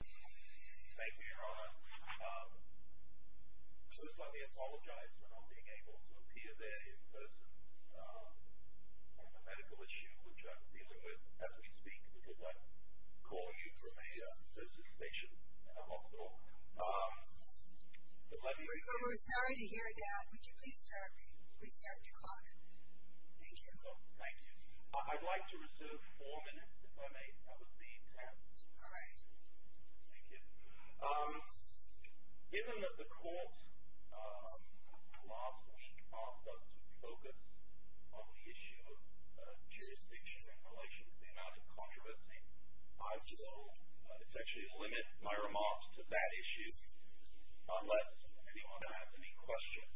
Thank you, Your Honor. First, let me apologize for not being able to appear there in person on the medical issue, which I'm dealing with as we speak, because I'm calling you from a nursing station, not a hospital. We're sorry to hear that. Would you please start the clock? Thank you. Thank you. I'd like to reserve four minutes if I may. That was the intent. All right. Thank you. Given that the court's law supposed to focus on the issue of jurisdiction in relation to the amount of controversy, I will essentially limit my remarks to that issue unless anyone has any questions.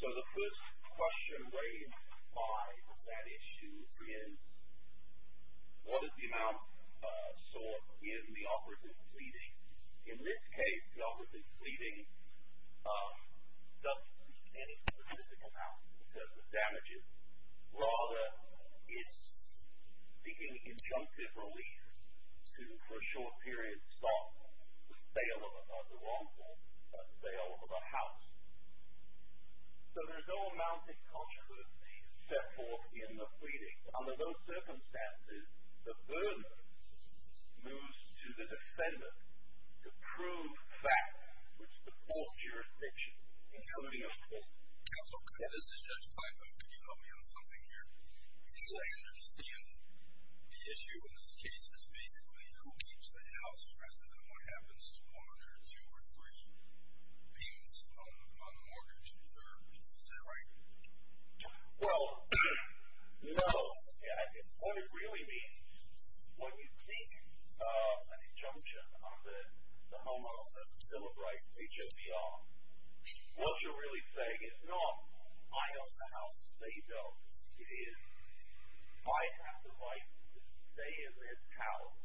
So the first question raised by that issue is, what is the amount sought if the officer is pleading? So there's no amount of controversy, except for in the pleading. Under those circumstances, the burden moves to the defendant to prove facts which support jurisdiction. Counsel, this is Judge Python. Could you help me on something here? Yes. Because I understand the issue in this case is basically who keeps the house rather than what happens to one or two or three payments on the mortgage. Is that right? Well, no. What it really means, what you think is an injunction of the home office to celebrate HHR, what you're really saying is not, I own the house, they don't. It is, I have the right to stay in this house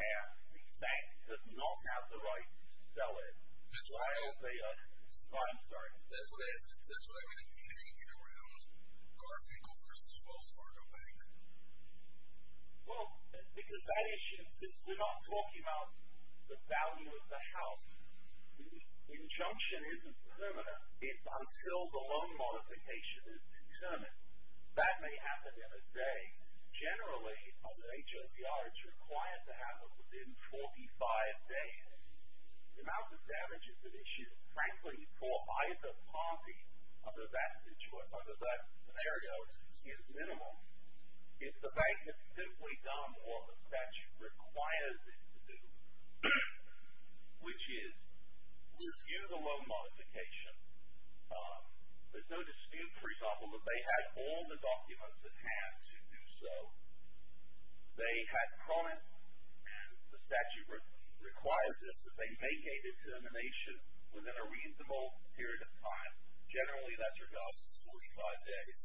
and the bank does not have the right to sell it. I'm sorry. That's what I meant. You didn't get around Garfinkel v. Wells Fargo Bank. Well, because that issue, we're not talking about the value of the house. The injunction isn't permanent until the loan modification is determined. That may happen in a day. Generally, under HHR, it's required to happen within 45 days. The amount of damages that issue, frankly, for either party under that scenario is minimal. If the bank has simply done more than such requires it to do, which is, with view to loan modification, there's no dispute, for example, if they had all the documents at hand to do so, they had comments, the statute requires it, that they make a determination within a reasonable period of time. Generally, that's about 45 days.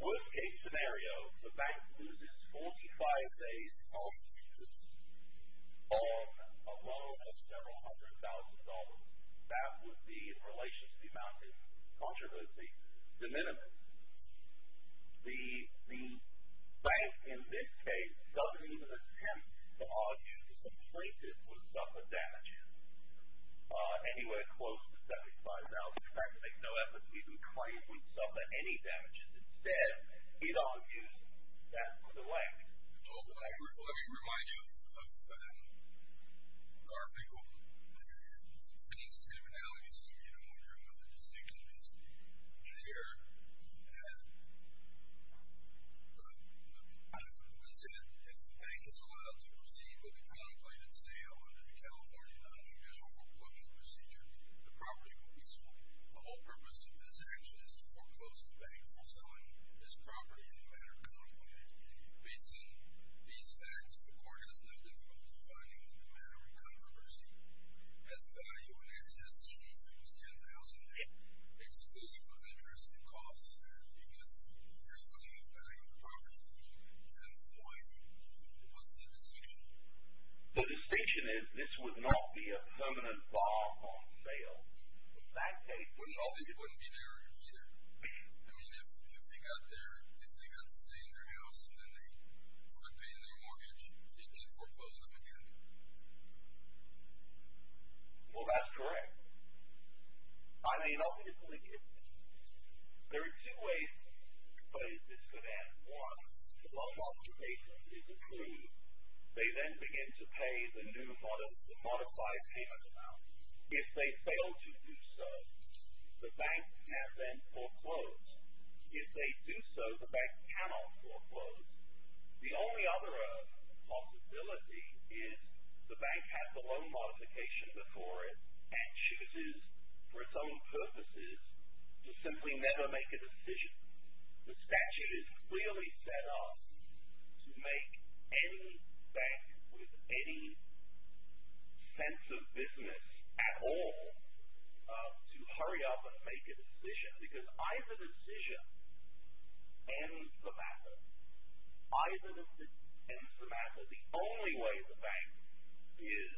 With a scenario, the bank loses 45 days of a loan of several hundred thousand dollars. That would be in relation to the amount of controversy. The minimum. The bank, in this case, doesn't even attempt to argue the plaintiff would suffer damages anywhere close to 75,000. They make no effort to even claim he would suffer any damages. Instead, it argues that for the bank. Let me remind you of Garfinkel. It seems kind of analogous to me, and I'm wondering what the distinction is there. We said if the bank is allowed to proceed with a contemplated sale under the California non-traditional foreclosure procedure, the property will be sold. The whole purpose of this action is to foreclose the bank for selling this property in the manner contemplated. Based on these facts, the court has no difficulty finding that the manner in controversy has value in excess to at least $10,000, exclusive of interest and costs. I guess you're looking at the value of the property. At this point, what's the distinction? The distinction is this would not be a permanent bar on sale. It wouldn't be there either. I mean, if they got their, if they got to stay in their house and then they quit paying their mortgage, they can't foreclose them again. Well, that's correct. I may not be completely clear. There are two ways in which this could happen. One, the long-term basis is approved. They then begin to pay the new, the modified payment amount. If they fail to do so, the bank has then foreclosed. If they do so, the bank cannot foreclose. The only other possibility is the bank has the loan modification before it and chooses, for its own purposes, to simply never make a decision. The statute is clearly set up to make any bank with any sense of business at all to hurry up and make a decision because either decision ends the matter. Either ends the matter. So the only way the bank is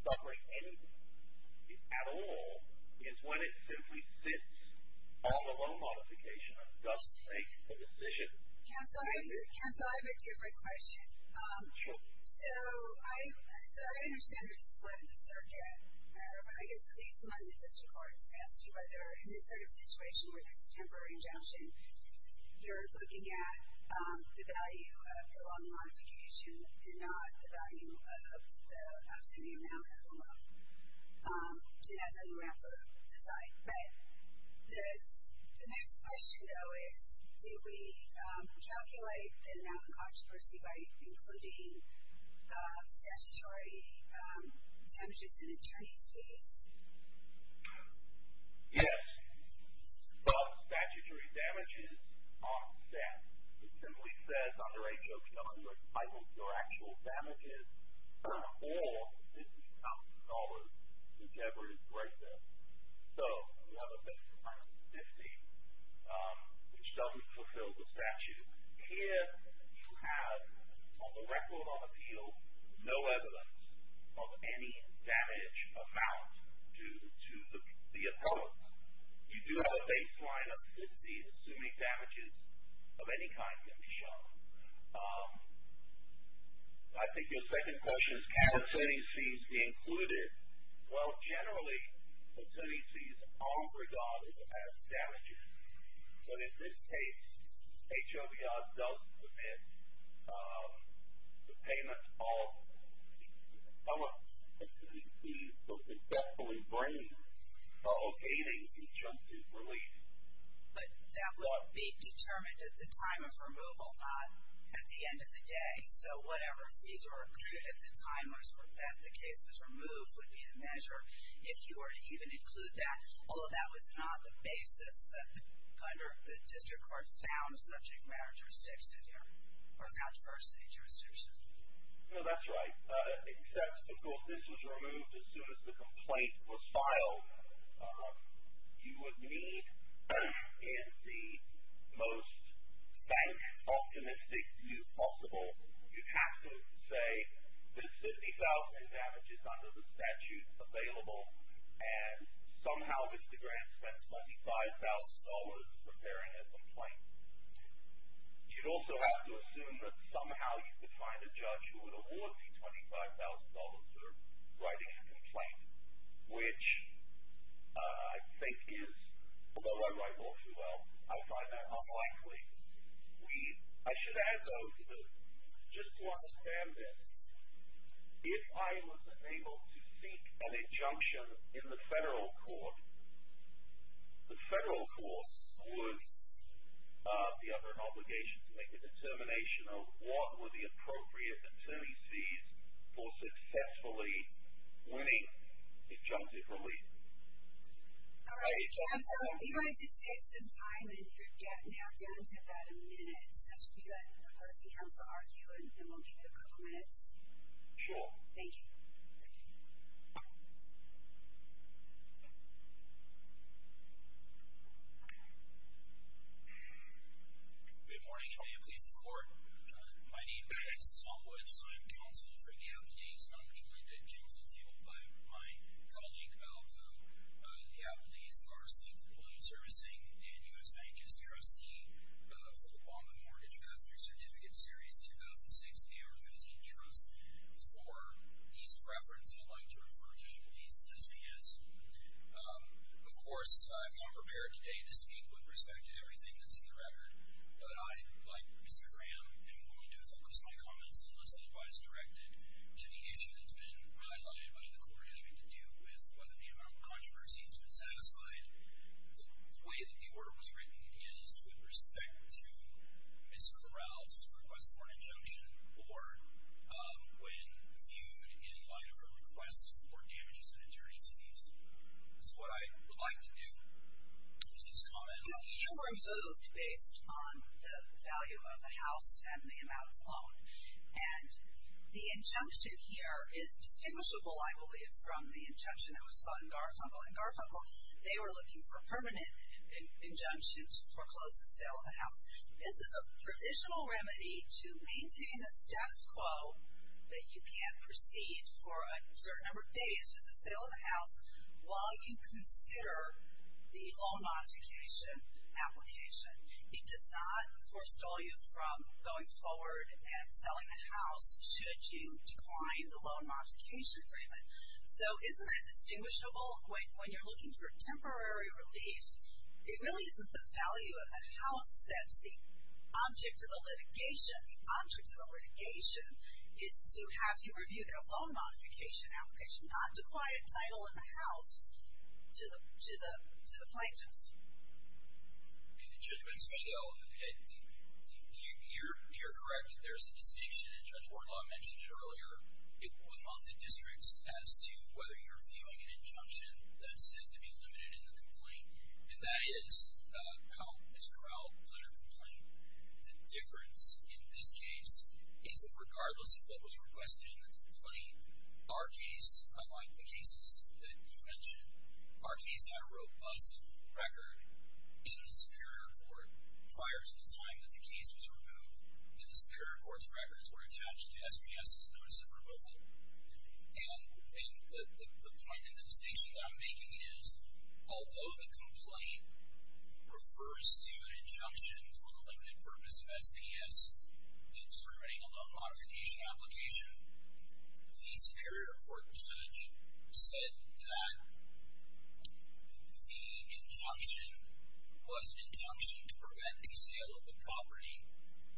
suffering anything at all is when it simply sits on the loan modification and doesn't make a decision. Counsel, I have a different question. Sure. So I understand there's a split in the circuit matter, but I guess at least among the district courts, as to whether in this sort of situation where there's a temporary injunction, you're looking at the value of the loan modification and not the value of the outstanding amount of the loan. It has a more ample design. But the next question, though, is do we calculate the amount of controversy by including statutory damages in attorney's fees? Yes. But statutory damages aren't set. It simply says under H.O. 200, your actual damages, or this is counted in dollars, whichever is right there. So you have a base amount of 50, which doesn't fulfill the statute. Here you have, on the record on appeal, no evidence of any damage amount due to the appellant. You do have a baseline of 50, assuming damages of any kind can be shown. I think your second question is can attorney's fees be included? Well, generally attorney's fees are regarded as damages. But in this case, H.O.B.O.S. does submit the payment of some of the fees for successfully bringing or obtaining injunctions released. But that would be determined at the time of removal, not at the end of the day. So whatever fees were accrued at the time that the case was removed would be the measure. If you were to even include that, although that was not the basis that the district court found subject matter jurisdictions or found diversity jurisdictions. No, that's right. Except, of course, this was removed as soon as the complaint was filed. You would need, in the most bank-optimistic view possible, you'd have to say there's 50,000 damages under the statute available and somehow Mr. Grant spent $25,000 preparing a complaint. You'd also have to assume that somehow you could find a judge who would award you $25,000 for writing a complaint, which I think is, although I write law too well, I find that unlikely. I should add, though, just to understand this, if I was able to seek an injunction in the federal court, the federal court would be under an obligation to make a determination of what were the appropriate attorney fees for successfully winning injunctive relief. All right, counsel, if you'd like to save some time, and you're now down to about a minute, so I should be letting the opposing counsel argue, and then we'll give you a couple minutes. Sure. Thank you. Good morning, and may it please the court. My name is Tom Woods. I'm counsel for the Appaneys, and I'm joined at counsel's heel by my colleague Al Vu, the Appaneys Parsley Proposal Servicing and U.S. Bankers' Trustee for the Guam Mortgage Pass-Through Certificate Series 2006-2015 Trust. For ease of reference, I'd like to refer to Appaneys as SPS. Of course, I've come prepared today to speak with respect to everything that's in the record, but I, like Mr. Graham, am going to focus my comments and listen to what is directed to the issue that's been highlighted by the court having to do with whether the amount of controversy has been satisfied. The way that the order was written is with respect to Ms. Corral's request for an injunction or when viewed in the light of her request for damages and attorney's fees. So what I would like to do is comment on each of those. based on the value of the house and the amount of the loan. And the injunction here is distinguishable, I believe, from the injunction that was fought in Garfunkel. In Garfunkel, they were looking for a permanent injunction to foreclose the sale of the house. This is a provisional remedy to maintain the status quo that you can't proceed for a certain number of days with the sale of the house while you consider the loan modification application. It does not forestall you from going forward and selling the house should you decline the loan modification agreement. So isn't that distinguishable? When you're looking for temporary relief, it really isn't the value of a house that's the object of the litigation. The object of the litigation is to have you review their loan modification application, and not declare a title in the house to the plaintiffs. In the judgment's view, though, you're correct. There's a distinction, and Judge Wardlaw mentioned it earlier, among the districts as to whether you're viewing an injunction that's said to be limited in the complaint. And that is how Ms. Corral was under complaint. The difference in this case is that regardless of what was requested in the complaint, our case, unlike the cases that you mentioned, our case had a robust record in the Superior Court prior to the time that the case was removed. And the Superior Court's records were attached to SPS's notice of removal. And the point and the distinction that I'm making is, although the complaint refers to an injunction for the limited purpose of SPS to discriminate a loan modification application, the Superior Court judge said that the injunction was an injunction to prevent a sale of the property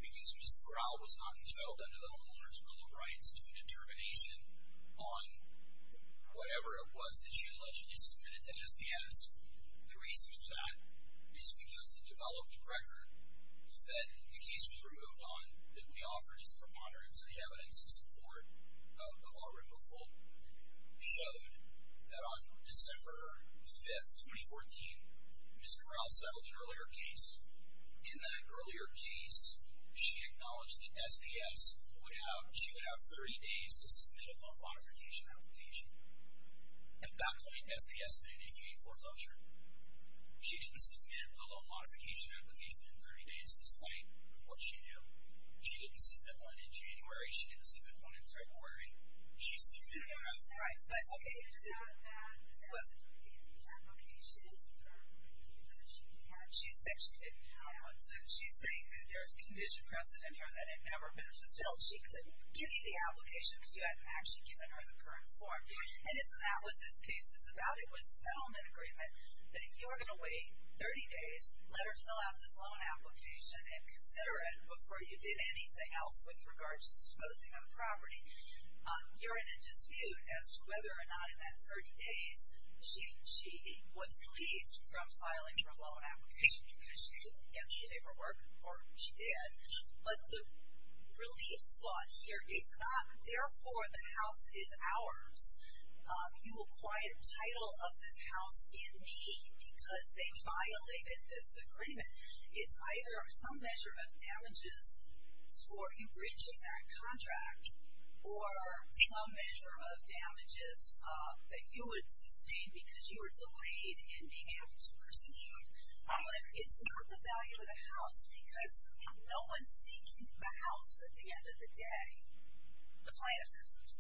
because Ms. Corral was not entitled under the Homeowners Bill of Rights to a determination on whatever it was that she alleged had been submitted to SPS. The reason for that is because the developed record that the case was removed on that we offered as preponderance of the evidence in support of our removal showed that on December 5th, 2014, Ms. Corral settled an earlier case. In that earlier case, she acknowledged that SPS would have, she would have 30 days to submit a loan modification application. At that point, SPS could initiate foreclosure. She didn't submit a loan modification application in 30 days despite what she knew. She didn't submit one in January. She didn't submit one in February. She submitted one. Right, but okay. She said she didn't have one. So she's saying that there's condition precedent here that it never met. No, she couldn't give you the application because you hadn't actually given her the current form. And isn't that what this case is about? It was a settlement agreement that you are going to wait 30 days, let her fill out this loan application, and consider it before you did anything else with regards to disposing of the property. You're in a dispute as to whether or not in that 30 days she was relieved from filing her loan application because she didn't get the labor work or she did. But the relief slot here is not, therefore, the house is ours. You acquired a title of this house in need because they violated this agreement. It's either some measure of damages for enbridging that contract or some measure of damages that you would sustain because you were delayed in being able to proceed. But it's not the value of the house because no one seeks the house at the end of the day. The plaintiff says this.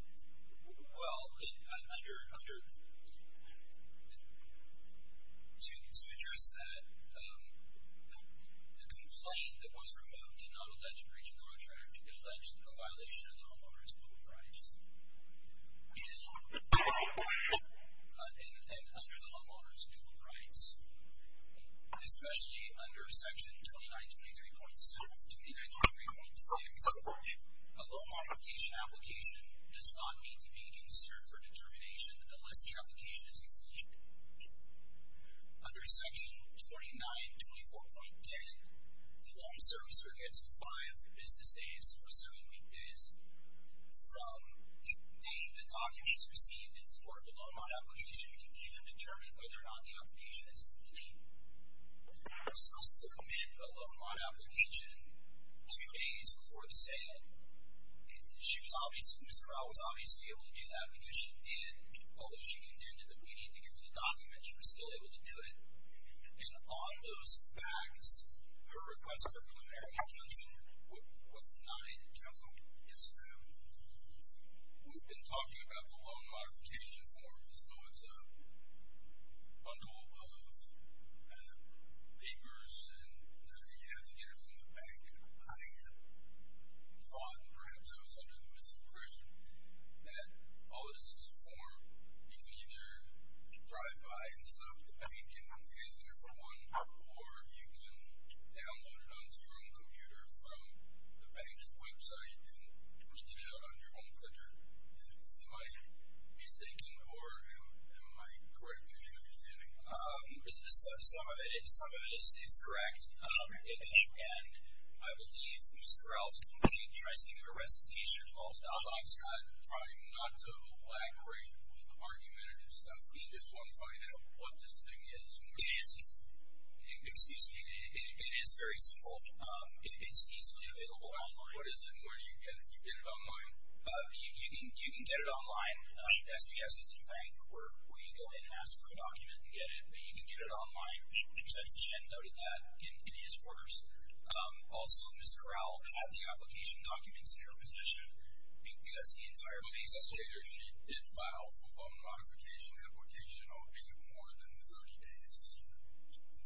Well, under, to address that, the complaint that was removed in non-alleged breach of contract alleged a violation of the homeowner's public rights. And under the homeowner's dual rights, especially under section 2923.6, a loan modification application does not need to be considered for determination unless the application is complete. Under section 2924.10, the loan servicer gets five business days or seven weekdays from the date the document is received in support of the loan modification to even determine whether or not the application is complete. You're supposed to submit a loan modification application two days before the sale. Ms. Corral was obviously able to do that because she did, although she contended that we need to give her the document, she was still able to do it. And on those facts, her request for preliminary information was denied. Counsel? Yes, ma'am. We've been talking about the loan modification form as though it's a bundle of papers and you have to get it from the bank. I had thought, and perhaps I was under the misimpression, that all it is is a form you can either drive by and set up at the bank and use it for one, or you can download it onto your own computer from the bank's website and print it out on your own printer. Am I mistaken, or am I correct in my understanding? Some of it is correct, and I believe Ms. Corral's company tries to get a recitation of all the documents. I'm trying not to lag great with argumentative stuff. We just want to find out what this thing is. It is very simple. It's easily available online. What is it, and where do you get it? You get it online? You can get it online. SDS isn't a bank where you go in and ask for a document and get it, but you can get it online. Ms. Chen noted that in his orders. Also, Ms. Corral had the application documents in her possession because the entire basis of it. It did file for a modification application, albeit more than the 30 days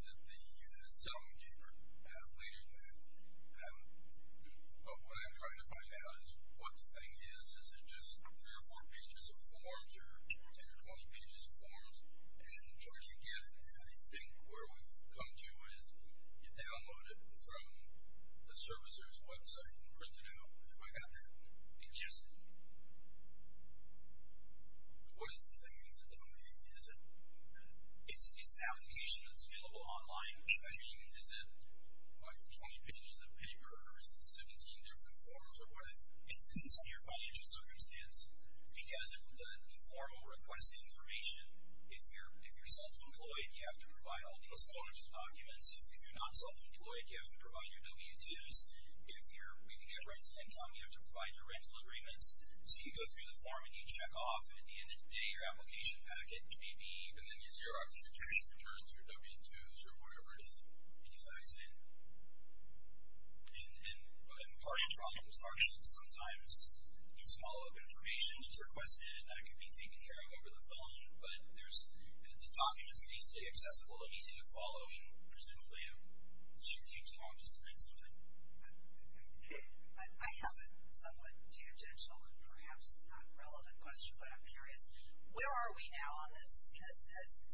that the settlement gave her later than that. But what I'm trying to find out is what the thing is. Is it just three or four pages of forms or 10 or 20 pages of forms, and where do you get it? I think where we've come to is you download it from the servicer's website and print it out. Have I got that? Yes. What is the thing? Is it an application that's available online? I mean, is it, like, 20 pages of paper, or is it 17 different forms, or what is it? It depends on your financial circumstance because the form will request the information. If you're self-employed, you have to provide all those forms and documents. If you're not self-employed, you have to provide your W-2s. If you're willing to get rental income, you have to provide your rental agreements. So you go through the form and you check off, and at the end of the day, your application packet may be within the Xerox, your cash returns, your W-2s, or whatever it is, and you fax it in. And part of the problem is sometimes you swallow up information that's requested and that can be taken care of over the phone, but the documents are easily accessible and easy to follow I have a somewhat tangential and perhaps not relevant question, but I'm curious. Where are we now on this?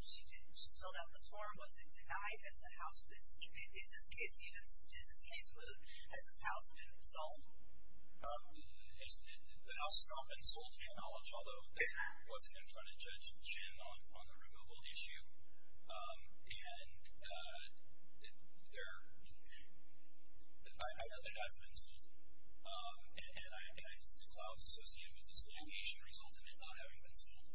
She filled out the form. Was it denied? Is this case moved? Has this house been sold? The house has not been sold, to my knowledge, although it wasn't in front of Judge Chin on the removal issue. And I know that it hasn't been sold, and I think the clout is associated with this litigation result and it not having been sold.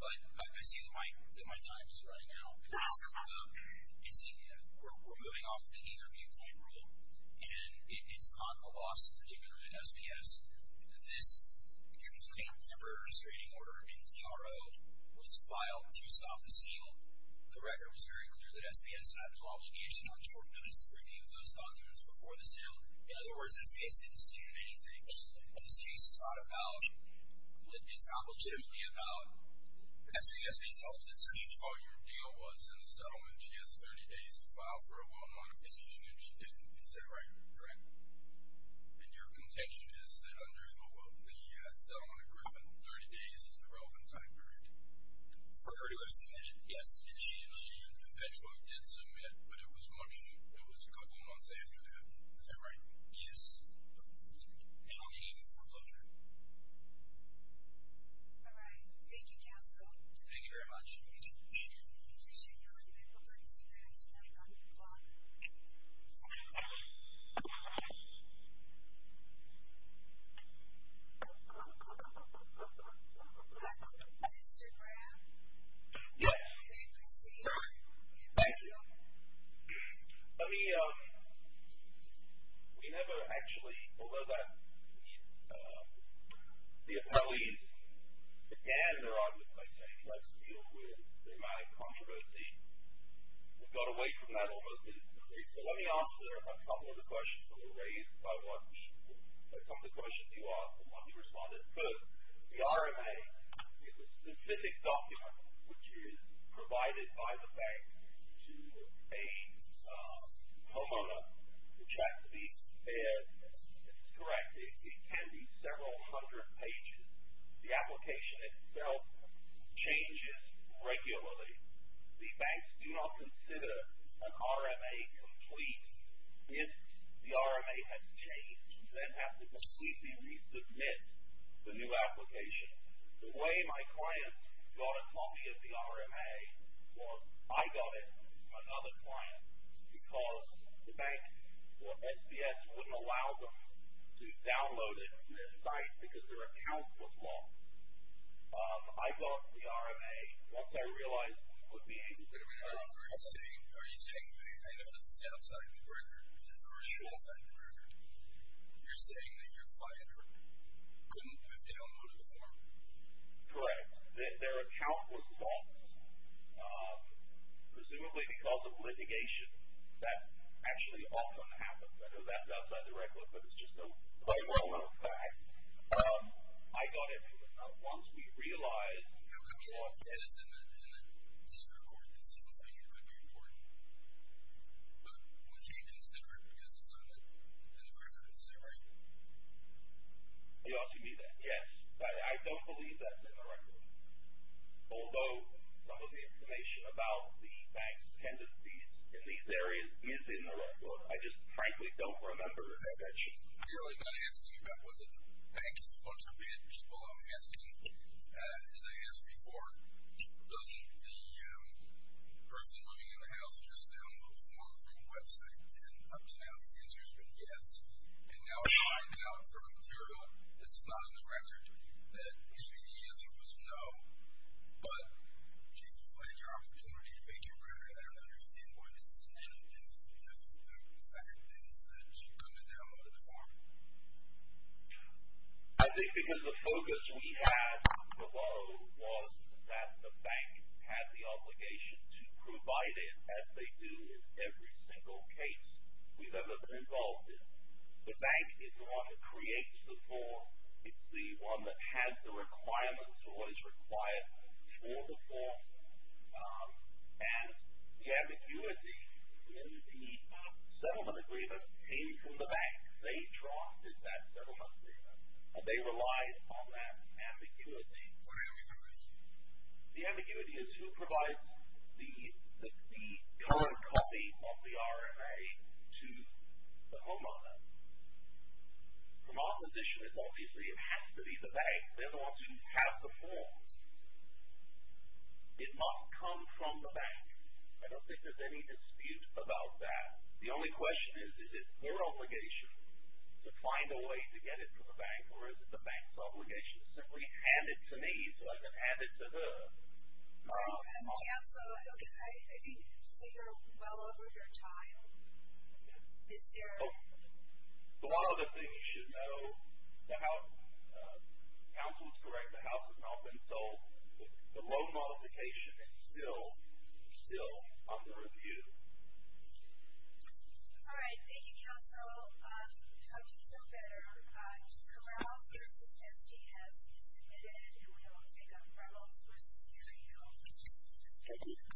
But I see that my time is running out. We're moving off of the either-be-employed rule, and it's on the loss, particularly at SPS. This complaint, temporary restraining order in TRO, was filed to stop the sale. The record was very clear that SPS had no obligation on short notice to review those documents before the sale. In other words, SPS didn't see them anything. This case is not about, it's not legitimately about SPS being sold. It seems all your deal was in the settlement. She has 30 days to file for a will of monetization, and she didn't consider either, correct? And your contention is that under the settlement agreement, 30 days is the relevant time period? For her to have submitted? Yes. And she eventually did submit, but it was a couple months after that. Is that right? Yes. And I'll be leaving for closure. All right. Thank you, counsel. Thank you very much. Thank you. I appreciate you all. You may put 32 minutes now on your clock. Thank you. Mr. Graham? Yes. Can I proceed? Thank you. Let me, we never actually, although that, the appellees began their argument by saying, let's deal with the amount of controversy. We got away from that almost instantly. So let me answer a couple of the questions that were raised by one, a couple of the questions you asked and one you responded to. The RMA is a specific document which is provided by the bank to a homeowner, which has to be prepared. This is correct. It can be several hundred pages. The application itself changes regularly. The banks do not consider an RMA complete. If the RMA has changed, then applicants need to resubmit the new application. The way my clients got a copy of the RMA was I got it, another client, because the bank or SPS wouldn't allow them to download it from their site because their account was lost. I got the RMA once I realized we could be able to. Are you saying, I know this is outside the record, or it's outside the record, you're saying that your client couldn't have downloaded the form? Correct. Their account was lost, presumably because of litigation. That actually often happens. I know that's outside the record, but it's just a point in time. I got it once we realized we could be able to. It's in the district court. It seems like it could be important. But would she consider it because it's in the record? Is that right? You're asking me that? Yes. I don't believe that's in the record. Although some of the information about the bank's tendencies in these areas is in the record. I just frankly don't remember that that changed. I'm clearly not asking you about whether the bank is a bunch of bad people. I'm asking, as I asked before, doesn't the person living in the house just download the form from a website and up to now the answer's been yes? And now I find out from material that's not in the record that maybe the answer was no. But, gee, you've lost your opportunity to make your record. I don't understand why this is happening if the fact is that you're going to download a form. I think because the focus we had below was that the bank had the obligation to provide it, as they do in every single case we've ever been involved in. The bank is the one that creates the form. It's the one that has the requirements for what is required for the form. And the ambiguity in the settlement agreement came from the bank. They drafted that settlement agreement, and they relied on that ambiguity. What ambiguity? The ambiguity is who provides the ill-written copy of the RFA to the homeowner. From our position, it's obviously it has to be the bank. They're the ones who have the form. It must come from the bank. I don't think there's any dispute about that. The only question is, is it their obligation to find a way to get it to the bank, or is it the bank's obligation to simply hand it to me so I can hand it to her? And, Council, I think you're well over your time. Ms. Sarah? One of the things you should know, the House, Council is correct, the House has not been sold. The loan modification is still under review. All right. Thank you, Council. I hope you feel better. Corral versus Heskey has been submitted, and we will take up Reynolds versus Maryhill. Thank you.